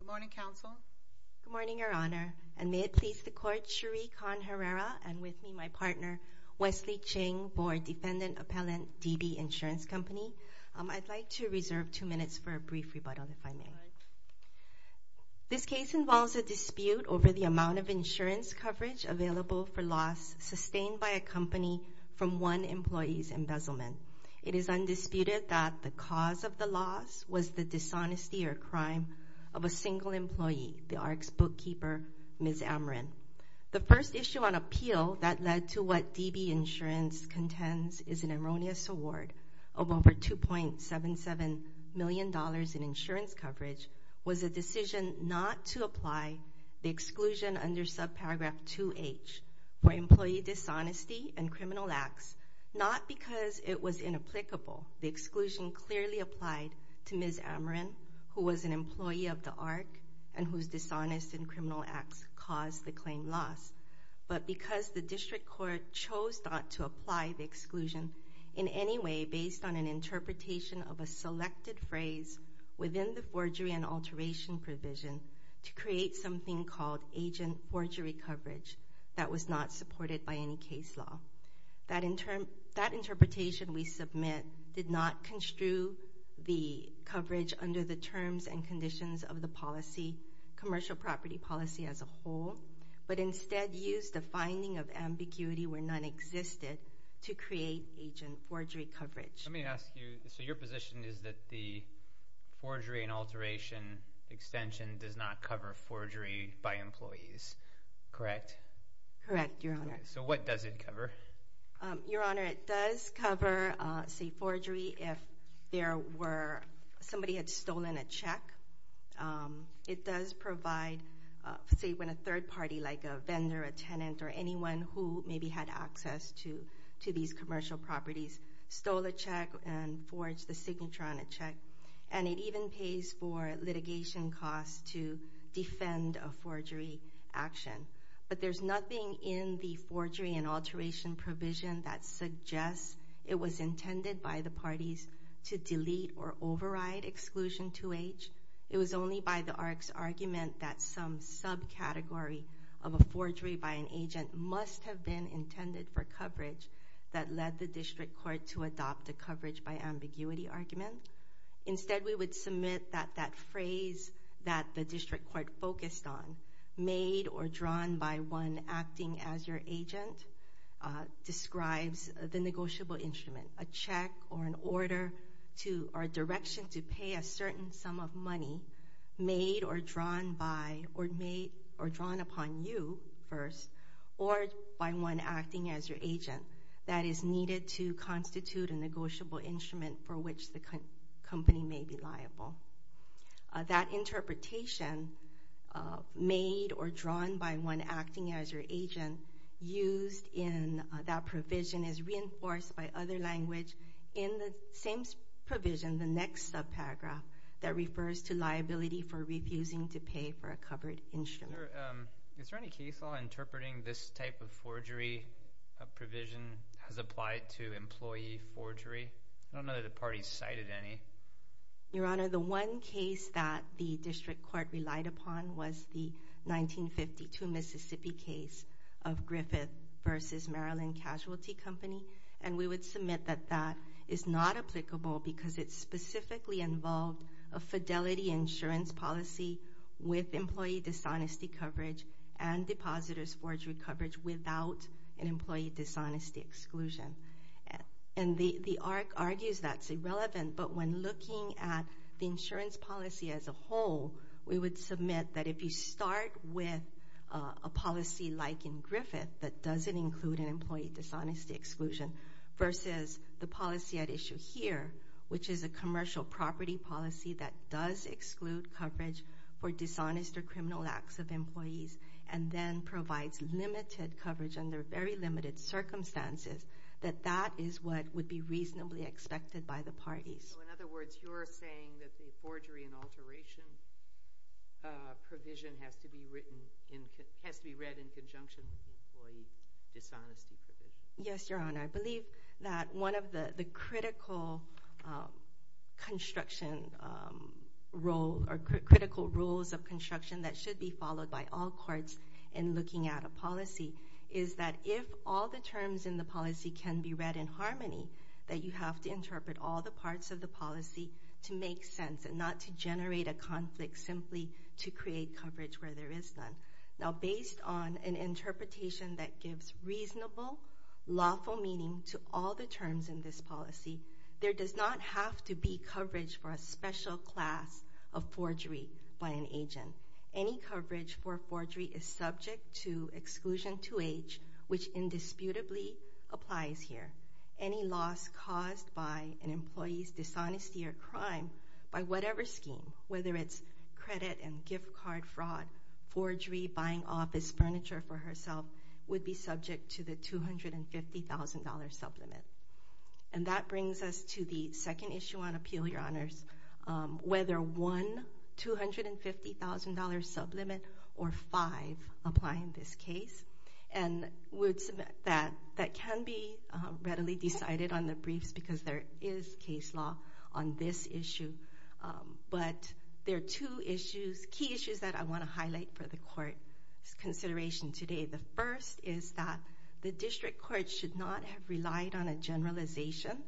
Good morning, Counsel. Good morning, Your Honor, and may it please the Court, Sheree Khan-Herrera and with me my partner, Wesley Ching, Board Defendant Appellant, DB Insurance Company. I'd like to reserve two minutes for a brief rebuttal, if I may. This case involves a dispute over the amount of insurance coverage available for loss sustained by a company from one employee's embezzlement. It is undisputed that the cause of the loss was the dishonesty or crime of a single employee, the Arc's bookkeeper, Ms. Amarin. The first issue on appeal that led to what DB Insurance contends is an erroneous award of over $2.77 million in insurance coverage was a decision not to apply the exclusion under subparagraph 2H for employee dishonesty and criminal acts, not because it was inapplicable. The exclusion clearly applied to Ms. Amarin, who was an employee of the Arc and whose dishonest and criminal acts caused the claim loss, but because the District Court chose not to apply the exclusion in any way based on an interpretation of a selected phrase within the forgery and agent forgery coverage that was not supported by any case law. That interpretation we submit did not construe the coverage under the terms and conditions of the policy, commercial property policy as a whole, but instead used a finding of ambiguity where none existed to create agent forgery coverage. Let me ask you, so your position is that the forgery and alteration extension does not cover forgery by employees, correct? Correct, Your Honor. So what does it cover? Your Honor, it does cover, say, forgery if there were, somebody had stolen a check. It does provide, say, when a third party, like a vendor, a tenant, or anyone who maybe had access to these commercial properties stole a check and forged the signature on that check. And it even pays for litigation costs to defend a forgery action. But there's nothing in the forgery and alteration provision that suggests it was intended by the parties to delete or override exclusion 2H. It was only by the Arc's argument that some subcategory of a forgery by an agent must have been intended for coverage that led the District Court to adopt a coverage by ambiguity argument. Instead, we would submit that that phrase that the District Court focused on, made or drawn by one acting as your agent, describes the negotiable instrument, a check or an order to or direction to pay a certain sum of money made or drawn by or made or drawn upon you first or by one acting as your agent that is needed to constitute a negotiable instrument for which the company may be liable. That interpretation, made or drawn by one acting as your agent, used in that provision is reinforced by other language in the same provision, the next subparagraph, that refers to liability for refusing to pay for a covered instrument. Is there any case law interpreting this type of forgery provision as applied to employee forgery? I don't know that the party cited any. Your Honor, the one case that the District Court relied upon was the 1952 Mississippi case of Griffith v. Maryland Casualty Company, and we would submit that that is not applicable because it specifically involved a fidelity insurance policy with employee dishonesty coverage and depositors forgery coverage without an employee dishonesty exclusion. And the ARC argues that's irrelevant, but when looking at the insurance policy as a whole, we would submit that if you start with a policy like in Griffith that doesn't include an employee dishonesty exclusion versus the policy at issue here, which is a commercial property policy that does exclude coverage for dishonest or criminal acts of employees and then provides limited coverage under very limited circumstances, that that is what would be reasonably expected by the parties. So in other words, you're saying that the forgery and alteration provision has to be read in conjunction with the employee dishonesty provision? Yes, Your Honor. I believe that one of the critical construction role or critical rules of construction that should be followed by all courts in looking at a policy is that if all the terms in the policy can be read in harmony, that you have to interpret all the parts of the policy to make sense and not to generate a conflict simply to create coverage where there is none. Now based on an interpretation that gives reasonable, lawful meaning to all the terms in this policy, there does not have to be coverage for a special class of forgery by an agent. Again, any coverage for forgery is subject to exclusion to age, which indisputably applies here. Any loss caused by an employee's dishonesty or crime by whatever scheme, whether it's credit and gift card fraud, forgery, buying office furniture for herself, would be subject to the $250,000 sublimit. And that brings us to the second issue on appeal, Your Honors. Whether one $250,000 sublimit or five apply in this case, and that can be readily decided on the briefs because there is case law on this issue. But there are two issues, key issues that I want to highlight for the court's consideration today. The first is that the district court should not have relied on a generalization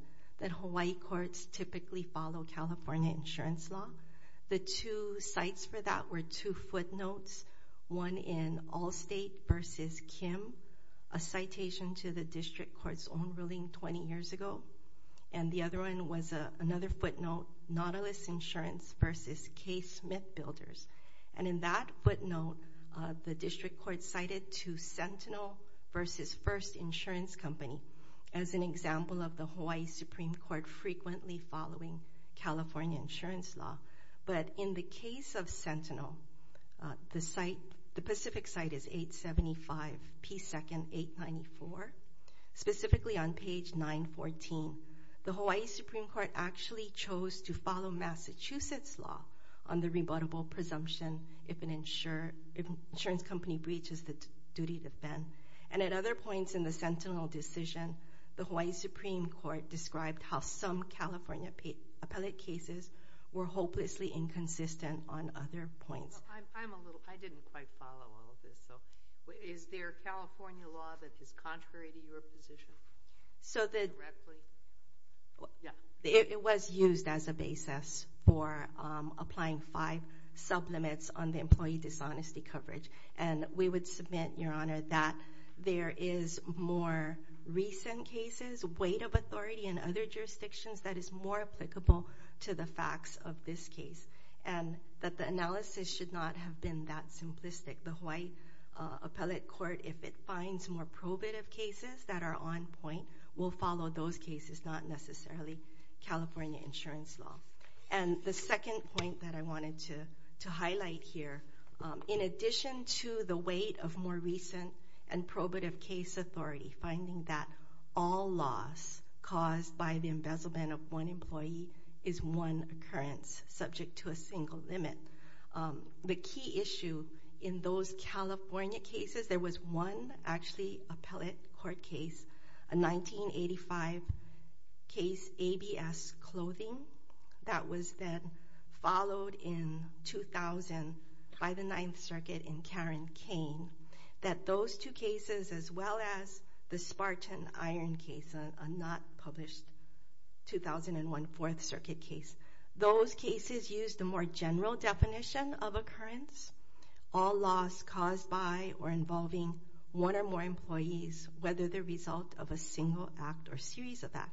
that Hawaii courts typically follow California insurance law. The two sites for that were two footnotes, one in Allstate v. Kim, a citation to the district court's own ruling 20 years ago. And the other one was another footnote, Nautilus Insurance v. K. Smith Builders. And in that footnote, the district court cited to Sentinel v. First Insurance Company as an example of the Hawaii Supreme Court frequently following California insurance law. But in the case of Sentinel, the site, the Pacific site is 875 P. 2nd 894, specifically on page 914. The Hawaii Supreme Court actually chose to follow Massachusetts law on the rebuttable presumption if an insurance company breaches the duty to fend. And at other points in the Sentinel decision, the Hawaii Supreme Court described how some California appellate cases were hopelessly inconsistent on other points. I'm a little, I didn't quite follow all of this. Is there California law that is contrary to your position? So the, it was used as a basis for applying five sublimits on the employee dishonesty coverage. And we would submit, Your Honor, that there is more recent cases, weight of authority in other jurisdictions that is more applicable to the facts of this case. And that the analysis should not have been that simplistic. The Hawaii appellate court, if it finds more probative cases that are on point, will follow those cases, not necessarily California insurance law. And the second point that I wanted to, to highlight here, in addition to the weight of more recent and probative case authority, finding that all loss caused by the embezzlement of one employee is one occurrence subject to a single limit. The key issue in those California cases, there was one actually appellate court case, a 1985 case ABS clothing that was then followed in 2000 by the Ninth Circuit in Karen Kane. That those two cases, as well as the Spartan Iron case, a not published 2001 Fourth Circuit case, those cases used a more general definition of occurrence, all loss caused by or involving one or more employees, whether the result of a single act or series of that,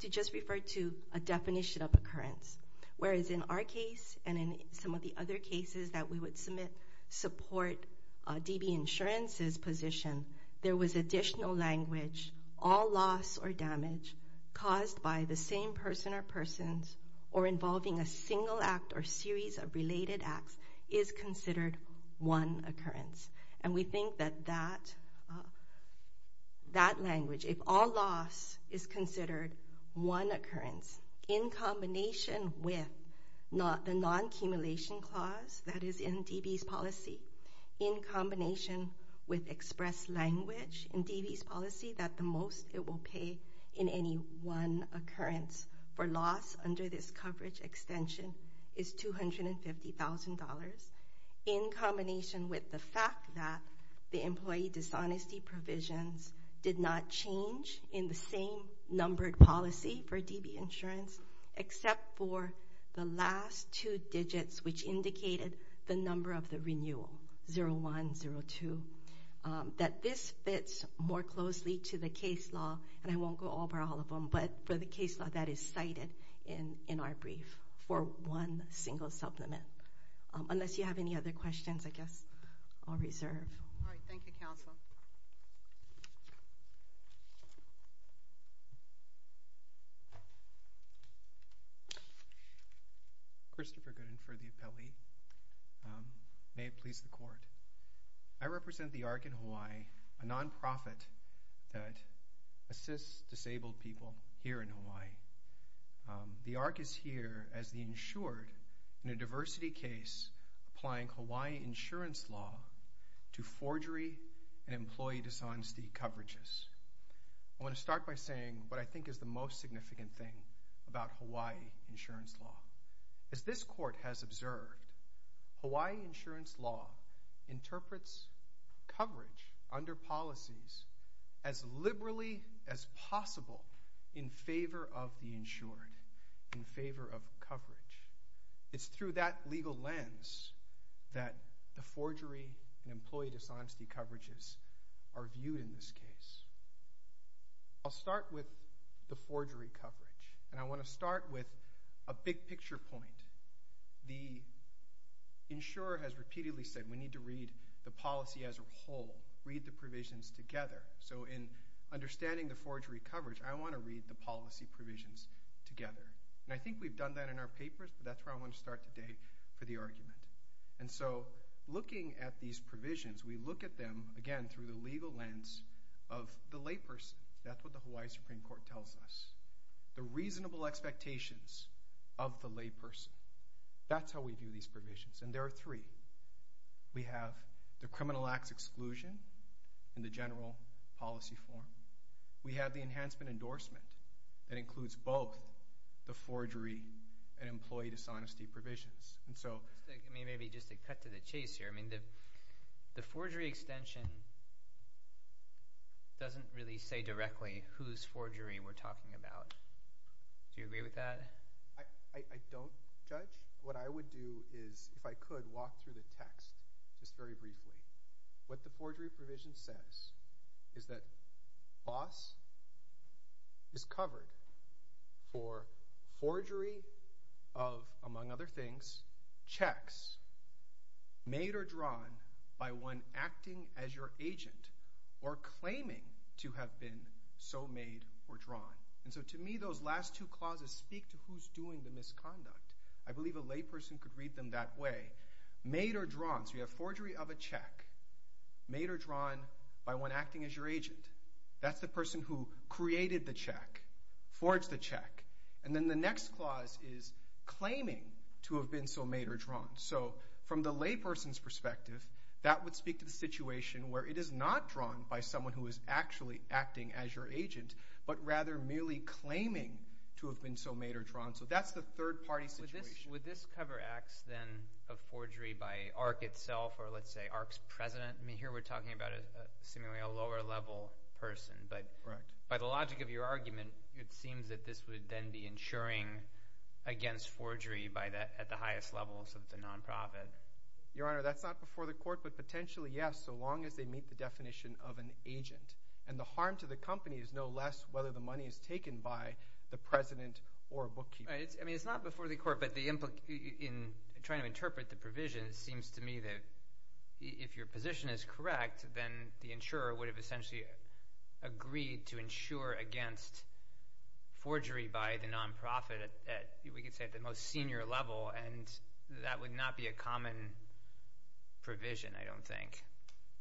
to just refer to a definition of occurrence. Whereas in our case, and in some of the other cases that we would submit support DB insurance's position, there was additional language, all loss or damage caused by the same person or involving a single act or series of related acts is considered one occurrence. And we think that that language, if all loss is considered one occurrence, in combination with the non-accumulation clause that is in DB's policy, in combination with express language in DB's policy that the most it will pay in any one occurrence for loss under this coverage extension is $250,000 in combination with the fact that the employee dishonesty provisions did not change in the same numbered policy for DB insurance, except for the last two to the case law, and I won't go over all of them, but for the case law that is cited in our brief for one single supplement. Unless you have any other questions, I guess I'll reserve. All right. Thank you, counsel. Christopher Gooden for the appellee. May it please the court. I represent the ARC in Hawaii, a non-profit that assists disabled people here in Hawaii. The ARC is here as the insured in a diversity case applying Hawaii insurance law to forgery and employee dishonesty coverages. I want to start by saying what I think is the most significant thing about Hawaii insurance law. As this court has observed, Hawaii insurance law interprets coverage under policies as liberally as possible in favor of the insured, in favor of coverage. It's through that legal lens that the forgery and employee dishonesty coverages are viewed in this case. I'll start with the forgery coverage, and I want to start with a big picture point. The insurer has repeatedly said we need to read the policy as a whole, read the provisions together. So in understanding the forgery coverage, I want to read the policy provisions together. And I think we've done that in our papers, but that's where I want to start today for the argument. And so looking at these provisions, we look at them, again, through the legal lens of the layperson. That's what the Hawaii Supreme Court tells us. The reasonable expectations of the layperson. That's how we view these provisions, and there are three. We have the criminal acts exclusion in the general policy form. We have the enhancement endorsement that includes both the forgery and employee dishonesty provisions. Maybe just to cut to the chase here, the forgery extension doesn't really say directly whose forgery we're talking about. Do you agree with that? I don't, Judge. What I would do is, if I could, walk through the text just very briefly. What the forgery provision says is that boss is covered for forgery of, among other things, checks made or drawn by one acting as your agent or claiming to have been so made or drawn. And so to me, those last two clauses speak to who's doing the misconduct. I believe a layperson could read them that way. Made or drawn. So you have forgery of a check made or drawn by one acting as your agent. That's the person who created the check, forged the check. And then the next clause is claiming to have been so made or drawn. So from the layperson's perspective, that would speak to the situation where it is not drawn by someone who is actually acting as your agent, but rather merely claiming to have been so made or drawn. So that's the third-party situation. Would this cover acts, then, of forgery by ARC itself or, let's say, ARC's president? I mean, here we're talking about, seemingly, a lower-level person. But by the logic of your argument, it seems that this would then be insuring against forgery at the highest levels of the nonprofit. Your Honor, that's not before the court, but potentially, yes, so long as they meet the definition of an agent. And the harm to the company is no less whether the money is taken by the president or a bookkeeper. It's not before the court, but in trying to interpret the provision, it seems to me that if your position is correct, then the insurer would have essentially agreed to insure against forgery by the nonprofit at, we could say, the most senior level, and that would not be a common provision, I don't think.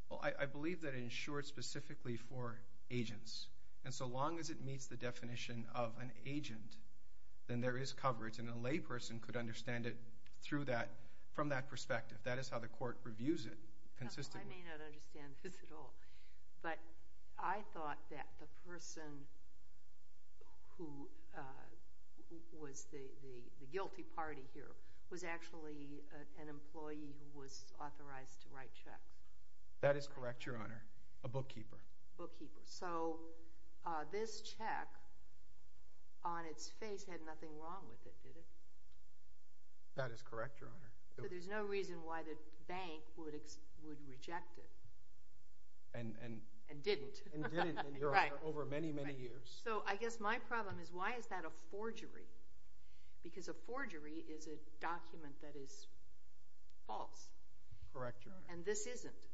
Well, I believe that it insures specifically for agents. And so long as it meets the definition of an agent, then there is coverage, and a layperson could understand it from that perspective. That is how the court reviews it consistently. I may not understand this at all, but I thought that the person who was the guilty party here was actually an employee who was authorized to write checks. That is correct, Your Honor. A bookkeeper. A bookkeeper. So this check, on its face, had nothing wrong with it, did it? That is correct, Your Honor. But there's no reason why the bank would reject it. And didn't. And didn't over many, many years. So I guess my problem is, why is that a forgery? Because a forgery is a document that is false. Correct, Your Honor. And this isn't.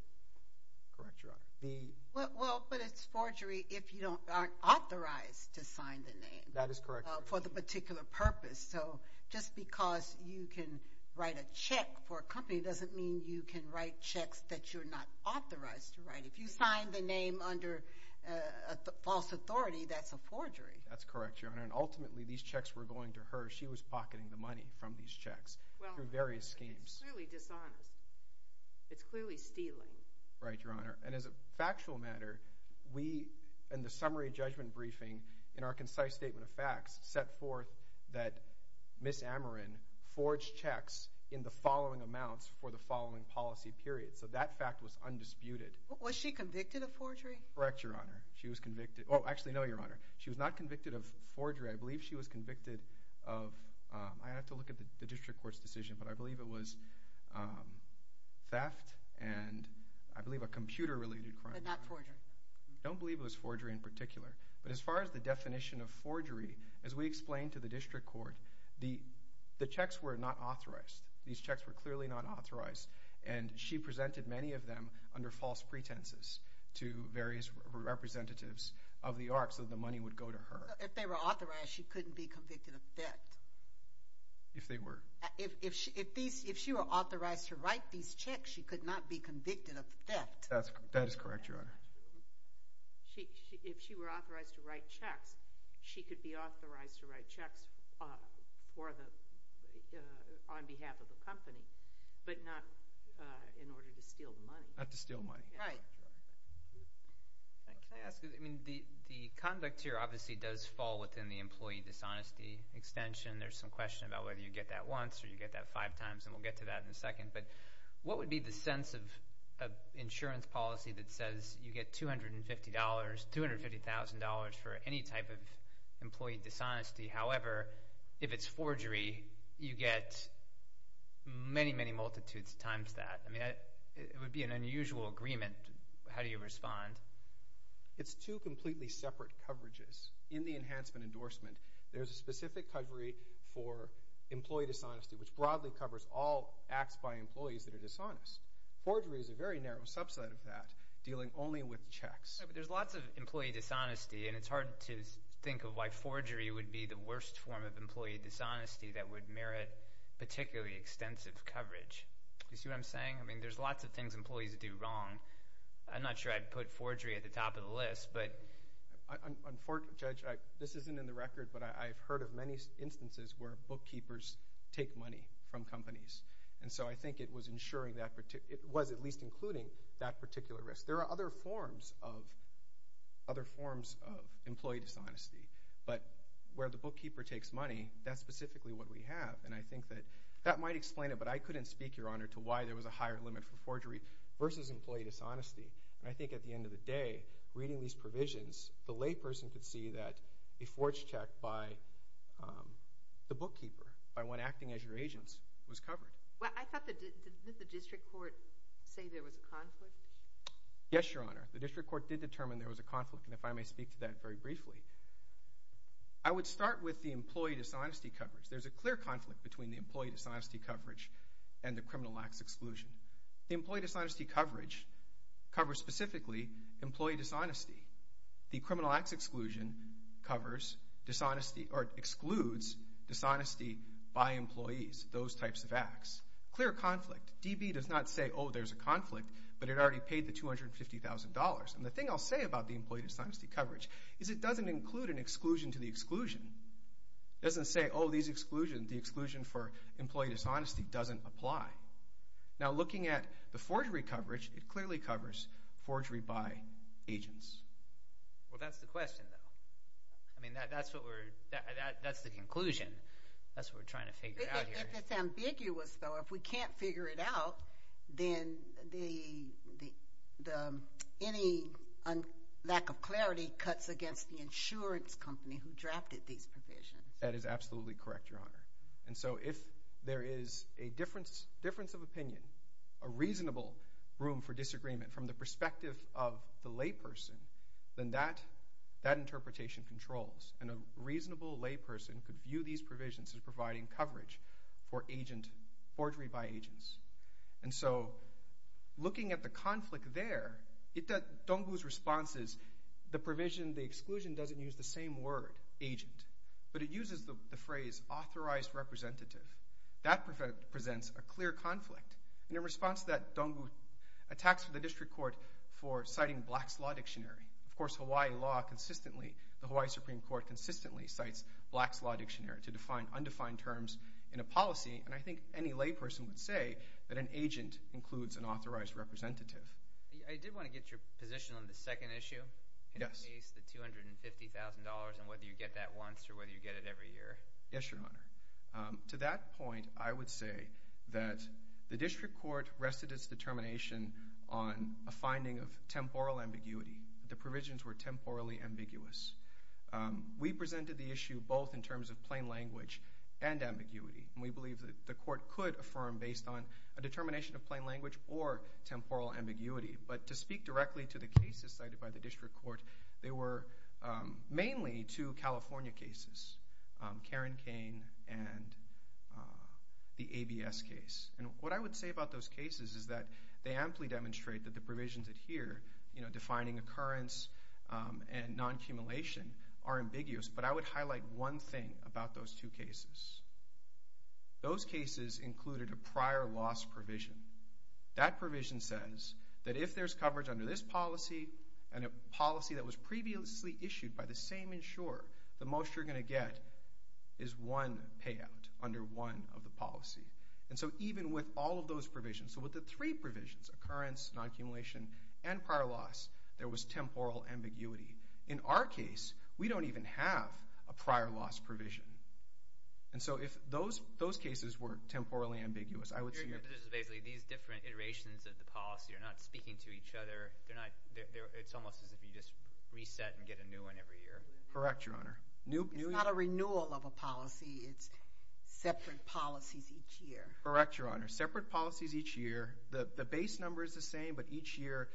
Correct, Your Honor. Well, but it's forgery if you aren't authorized to sign the name. That is correct, Your Honor. For the particular purpose. So just because you can write a check for a company doesn't mean you can write checks that you're not authorized to write. If you sign the name under false authority, that's a forgery. That's correct, Your Honor. And ultimately, these checks were going to her. She was pocketing the money from these checks through various schemes. It's clearly dishonest. It's clearly stealing. Right, Your Honor. And as a factual matter, we, in the summary judgment briefing, in our concise statement of facts, set forth that Ms. Amerin forged checks in the following amounts for the following policy period. So that fact was undisputed. Was she convicted of forgery? Correct, Your Honor. Oh, actually, no, Your Honor. She was not convicted of forgery. I believe she was convicted of, I'd have to look at the District Court's decision, but I believe it was theft and I believe a computer-related crime. But not forgery. I don't believe it was forgery in particular. But as far as the definition of forgery, as we explained to the District Court, the checks were not authorized. These checks were clearly not authorized. And she presented many of them under false pretenses to various representatives of the ARC so the money would go to her. If they were authorized, she couldn't be convicted of theft. If they were. If she were authorized to write these checks, she could not be convicted of theft. That is correct, Your Honor. If she were authorized to write checks, she could be authorized to write checks for the, on behalf of the company, but not in order to steal the money. Not to steal money. Right. The conduct here obviously does fall within the employee dishonesty extension. There's some question about whether you get that once or you get that five times and we'll get to that in a second. What would be the sense of insurance policy that says you get $250,000 for any type of employee dishonesty. However, if it's forgery, you get many, many multitudes of times that. It would be an unusual agreement. How do you respond? It's two completely separate coverages in the enhancement endorsement. There's a specific coverage for employee dishonesty, which broadly covers all acts by employees that are dishonest. Forgery is a very narrow subset of that, dealing only with checks. There's lots of employee dishonesty, and it's hard to think of why forgery would be the worst form of employee dishonesty that would merit particularly extensive coverage. There's lots of things employees do wrong. I'm not sure I'd put forgery at the top of the list, but Unfortunately, Judge, this isn't in the record, but I've heard of instances where bookkeepers take money from companies. I think it was ensuring that it was at least including that particular risk. There are other forms of other forms of employee dishonesty, but where the bookkeeper takes money, that's specifically what we have. That might explain it, but I couldn't speak, Your Honor, to why there was a higher limit for forgery versus employee dishonesty. At the end of the day, reading these provisions, the layperson could see that a forged check by the bookkeeper, by one acting as your agent, was covered. Did the district court say there was a conflict? Yes, Your Honor. The district court did determine there was a conflict, and if I may speak to that very briefly. I would start with the employee dishonesty coverage. There's a clear conflict between the employee dishonesty coverage and the criminal acts exclusion. The employee dishonesty coverage covers specifically employee dishonesty. The criminal acts exclusion excludes dishonesty by employees, those types of acts. Clear conflict. DB does not say, oh, there's a conflict, but it already paid the $250,000. The thing I'll say about the employee dishonesty coverage is it doesn't include an exclusion to the exclusion. It doesn't say, oh, the exclusion for employee dishonesty doesn't apply. Now, looking at the forgery coverage, it clearly covers forgery by agents. Well, that's the question, though. I mean, that's what we're that's the conclusion. That's what we're trying to figure out here. If it's ambiguous, though, if we can't figure it out, then the any lack of clarity cuts against the insurance company who drafted these provisions. That is absolutely correct, Your Honor. And so, if there is a difference of opinion, a reasonable room for disagreement from the perspective of the layperson, then that interpretation controls, and a reasonable layperson could view these provisions as providing coverage for agent forgery by agents. And so, looking at the conflict there, Dong Gu's response is the provision the exclusion doesn't use the same word, agent, but it uses the phrase authorized representative. That presents a clear conflict. And in response to that, Dong Gu attacks the District Court for citing Black's Law Dictionary. Of course, Hawaii law consistently the Hawaii Supreme Court consistently cites Black's Law Dictionary to define undefined terms in a policy, and I think any layperson would say that an agent includes an authorized representative. I did want to get your position on the second issue. Yes. The $250,000 and whether you get that once or whether you get it every year. Yes, Your Honor. To that point, I would say that the District Court rested its determination on a finding of temporal ambiguity. The provisions were temporally ambiguous. We presented the issue both in terms of plain language and ambiguity, and we believe that the Court could affirm based on a determination of plain language or temporal ambiguity, but to speak directly to the cases cited by the District Court, they were mainly two California cases, Karen Kane and the ABS case, and what I would say about those cases is that they amply demonstrate that the provisions here defining occurrence and non-accumulation are ambiguous, but I would highlight one thing about those two cases. Those cases included a prior loss provision. That provision says that if there's coverage under this policy and a policy that was previously issued by the same insurer, the most you're going to get is one payout under one of the policy. And so even with all of those provisions, so with the three provisions, occurrence, non-accumulation, and prior loss, there was temporal ambiguity. In our case, we don't even have a prior loss provision. And so if those cases weren't temporally ambiguous, I would say... These different iterations of the policy are not speaking to each other. It's almost as if you just reset and get a new one every year. Correct, Your Honor. It's not a renewal of a policy. It's separate policies each year. Correct, Your Honor. Separate policies each year. The base number is the same, but each year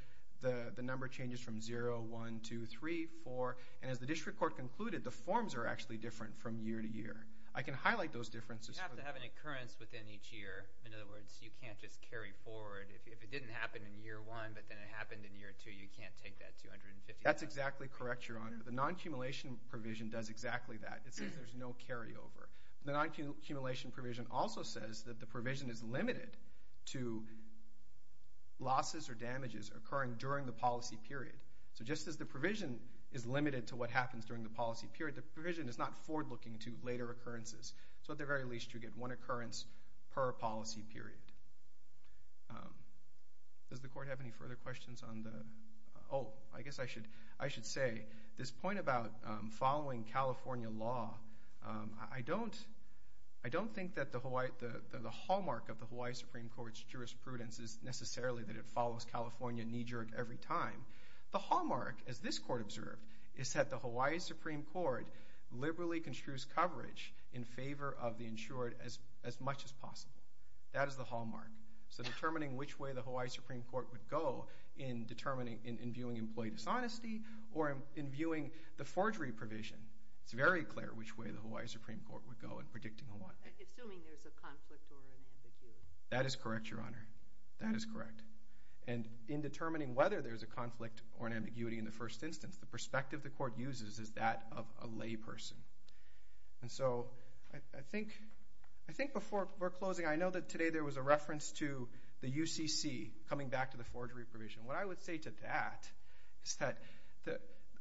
the number changes from 0, 1, 2, 3, 4, and as the district court concluded, the forms are actually different from year to year. I can highlight those differences. You have to have an occurrence within each year. In other words, you can't just carry forward. If it didn't happen in year one, but then it happened in year two, you can't take that That's exactly correct, Your Honor. The non-accumulation provision does exactly that. It says there's no carryover. The non-accumulation provision also says that the provision is limited to losses or damages occurring during the policy period. So just as the provision is limited to what happens during the policy period, the provision is not forward looking to later occurrences. So at the very least you get one occurrence per policy period. Does the court have any further questions? I guess I should say, this point about following California law, I don't think that the hallmark of the Hawaii Supreme Court's jurisprudence is necessarily that it follows California knee-jerk every time. The hallmark, as this court observed, is that the Hawaii Supreme Court liberally construes coverage in favor of the insured as much as possible. That is the hallmark. So determining which way the Hawaii Supreme Court would go in determining, in viewing employee dishonesty, or in viewing the forgery provision, it's very clear which way the Hawaii Supreme Court would go in predicting Hawaii. Assuming there's a conflict or an ambiguity. That is correct, Your Honor. That is correct. And in determining whether there's a conflict or an ambiguity in the first instance, the perspective the court uses is that of a lay person. And so, I think before closing, I know that today there was a reference to the UCC coming back to the forgery provision. What I would say to that is that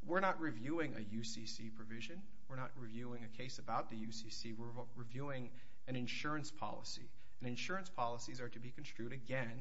we're not reviewing a UCC provision. We're not reviewing a case about the UCC. We're reviewing an insurance policy. And insurance policies are to be construed, again,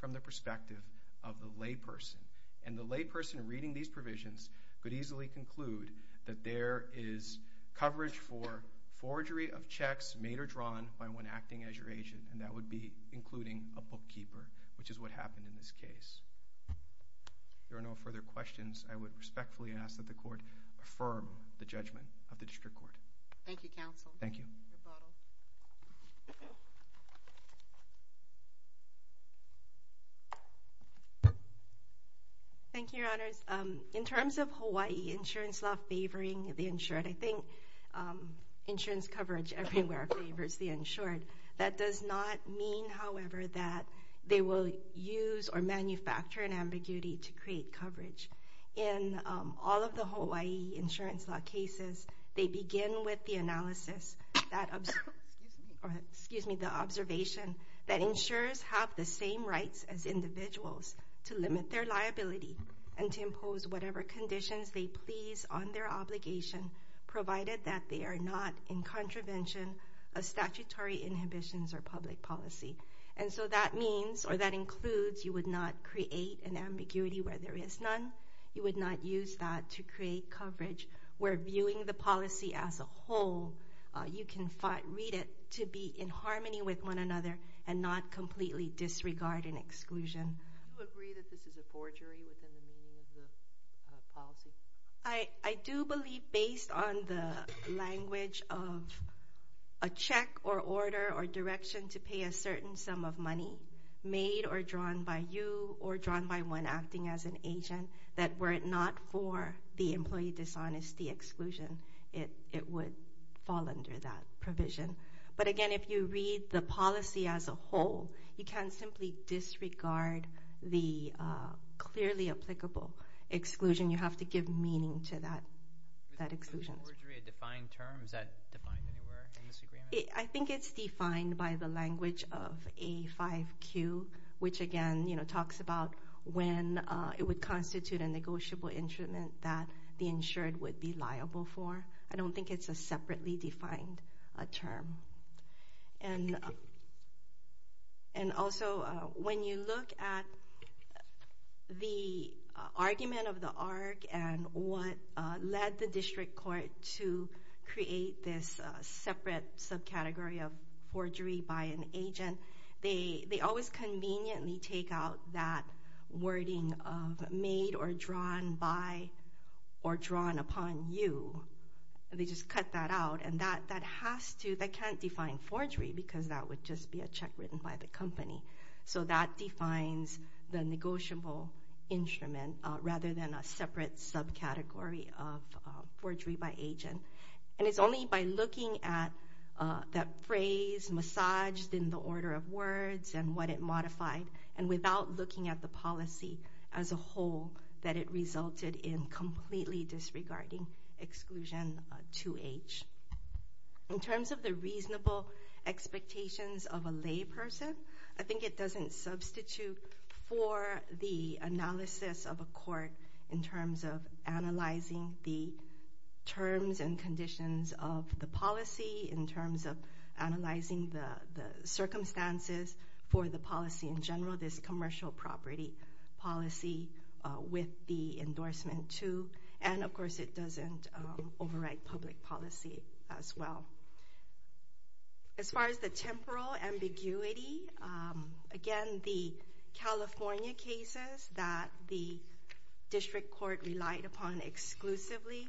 from the perspective of the lay person. And the lay person reading these provisions could easily conclude that there is coverage for forgery of checks made or drawn by one acting as your agent. And that would be including a bookkeeper, which is what happened in this case. If there are no further questions, I would respectfully ask that the Court affirm the judgment of the District Court. Thank you, Counsel. Thank you. Thank you, Your Honors. In terms of Hawaii insurance law favoring the insured, I think insurance coverage everywhere favors the insured. That does not mean, however, that they will use or manufacture an ambiguity to create coverage. In all of the Hawaii insurance law cases, they begin with the analysis that observes the observation that insurers have the same rights as individuals to limit their liability and to impose whatever conditions they please on their obligation, provided that they are not in contravention of statutory inhibitions or public policy. And so that means or that includes you would not create an ambiguity where there is none. You would not use that to create coverage where viewing the policy as a whole, you can read it to be in harmony with one another and not completely disregard and exclusion. Do you agree that this is a forgery within the meaning of the policy? I do believe based on the language of a check or order or direction to pay a certain sum of money made or drawn by you or drawn by one acting as an agent that were it not for the employee dishonesty exclusion, it would fall under that provision. But again, if you read the policy as a whole, you can't simply disregard the clearly applicable exclusion. You have to give meaning to that exclusion. Is the forgery a defined term? Is that defined anywhere in this agreement? I think it's defined by the language of A5Q, which again talks about when it would constitute a negotiable instrument that the insured would be liable for. I don't think it's a separately defined term. And also, when you look at the argument of the ARC and what led the district court to create this separate subcategory of forgery by an agent, they always conveniently take out that wording of made or drawn by or drawn upon you. They just cut that out. And that can't define forgery because that would just be a check written by the company. So that defines the rather than a separate subcategory of forgery by agent. And it's only by looking at that phrase massaged in the order of words and what it modified and without looking at the policy as a whole that it resulted in completely disregarding exclusion 2H. In terms of the reasonable expectations of a lay person, I think it doesn't substitute for the analysis of a court in terms of analyzing the terms and conditions of the policy in terms of analyzing the circumstances for the policy in general. This commercial property policy with the endorsement to, and of course it doesn't override public policy as well. As far as the temporal ambiguity, again the California cases that the District Court relied upon exclusively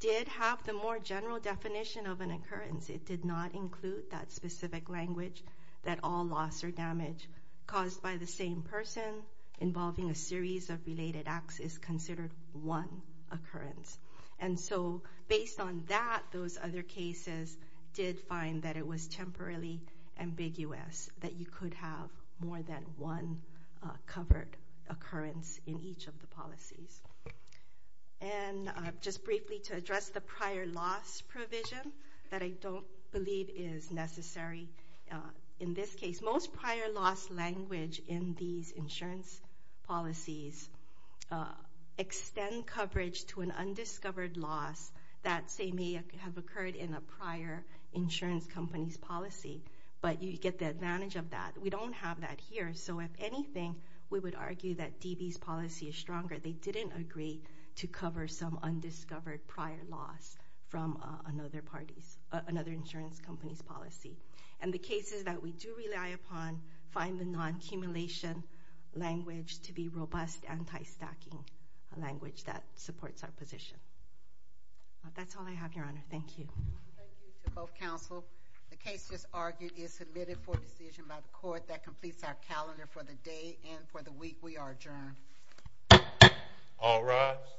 did have the more general definition of an occurrence. It did not include that specific language that all loss or damage caused by the same person involving a series of related acts is considered one occurrence. And so based on that, those other cases did find that it was temporarily ambiguous that you could have more than one covered occurrence in each of the policies. And just briefly to address the prior loss provision that I don't believe is necessary in this case. Most prior loss language in these insurance policies extend coverage to an undiscovered loss that say may have occurred in a prior insurance company's policy, but you get the advantage of that. We don't have that here, so if anything, we would argue that DB's policy is stronger. They didn't agree to cover some undiscovered prior loss from another insurance company's policy. And the cases that we do rely upon find the non-accumulation language to be robust anti-stacking language that supports our position. That's all I have, Your Honor. Thank you. Thank you to both counsel. The case just argued is submitted for decision by the court. That completes our calendar for the day and for the week. We are adjourned. All rise.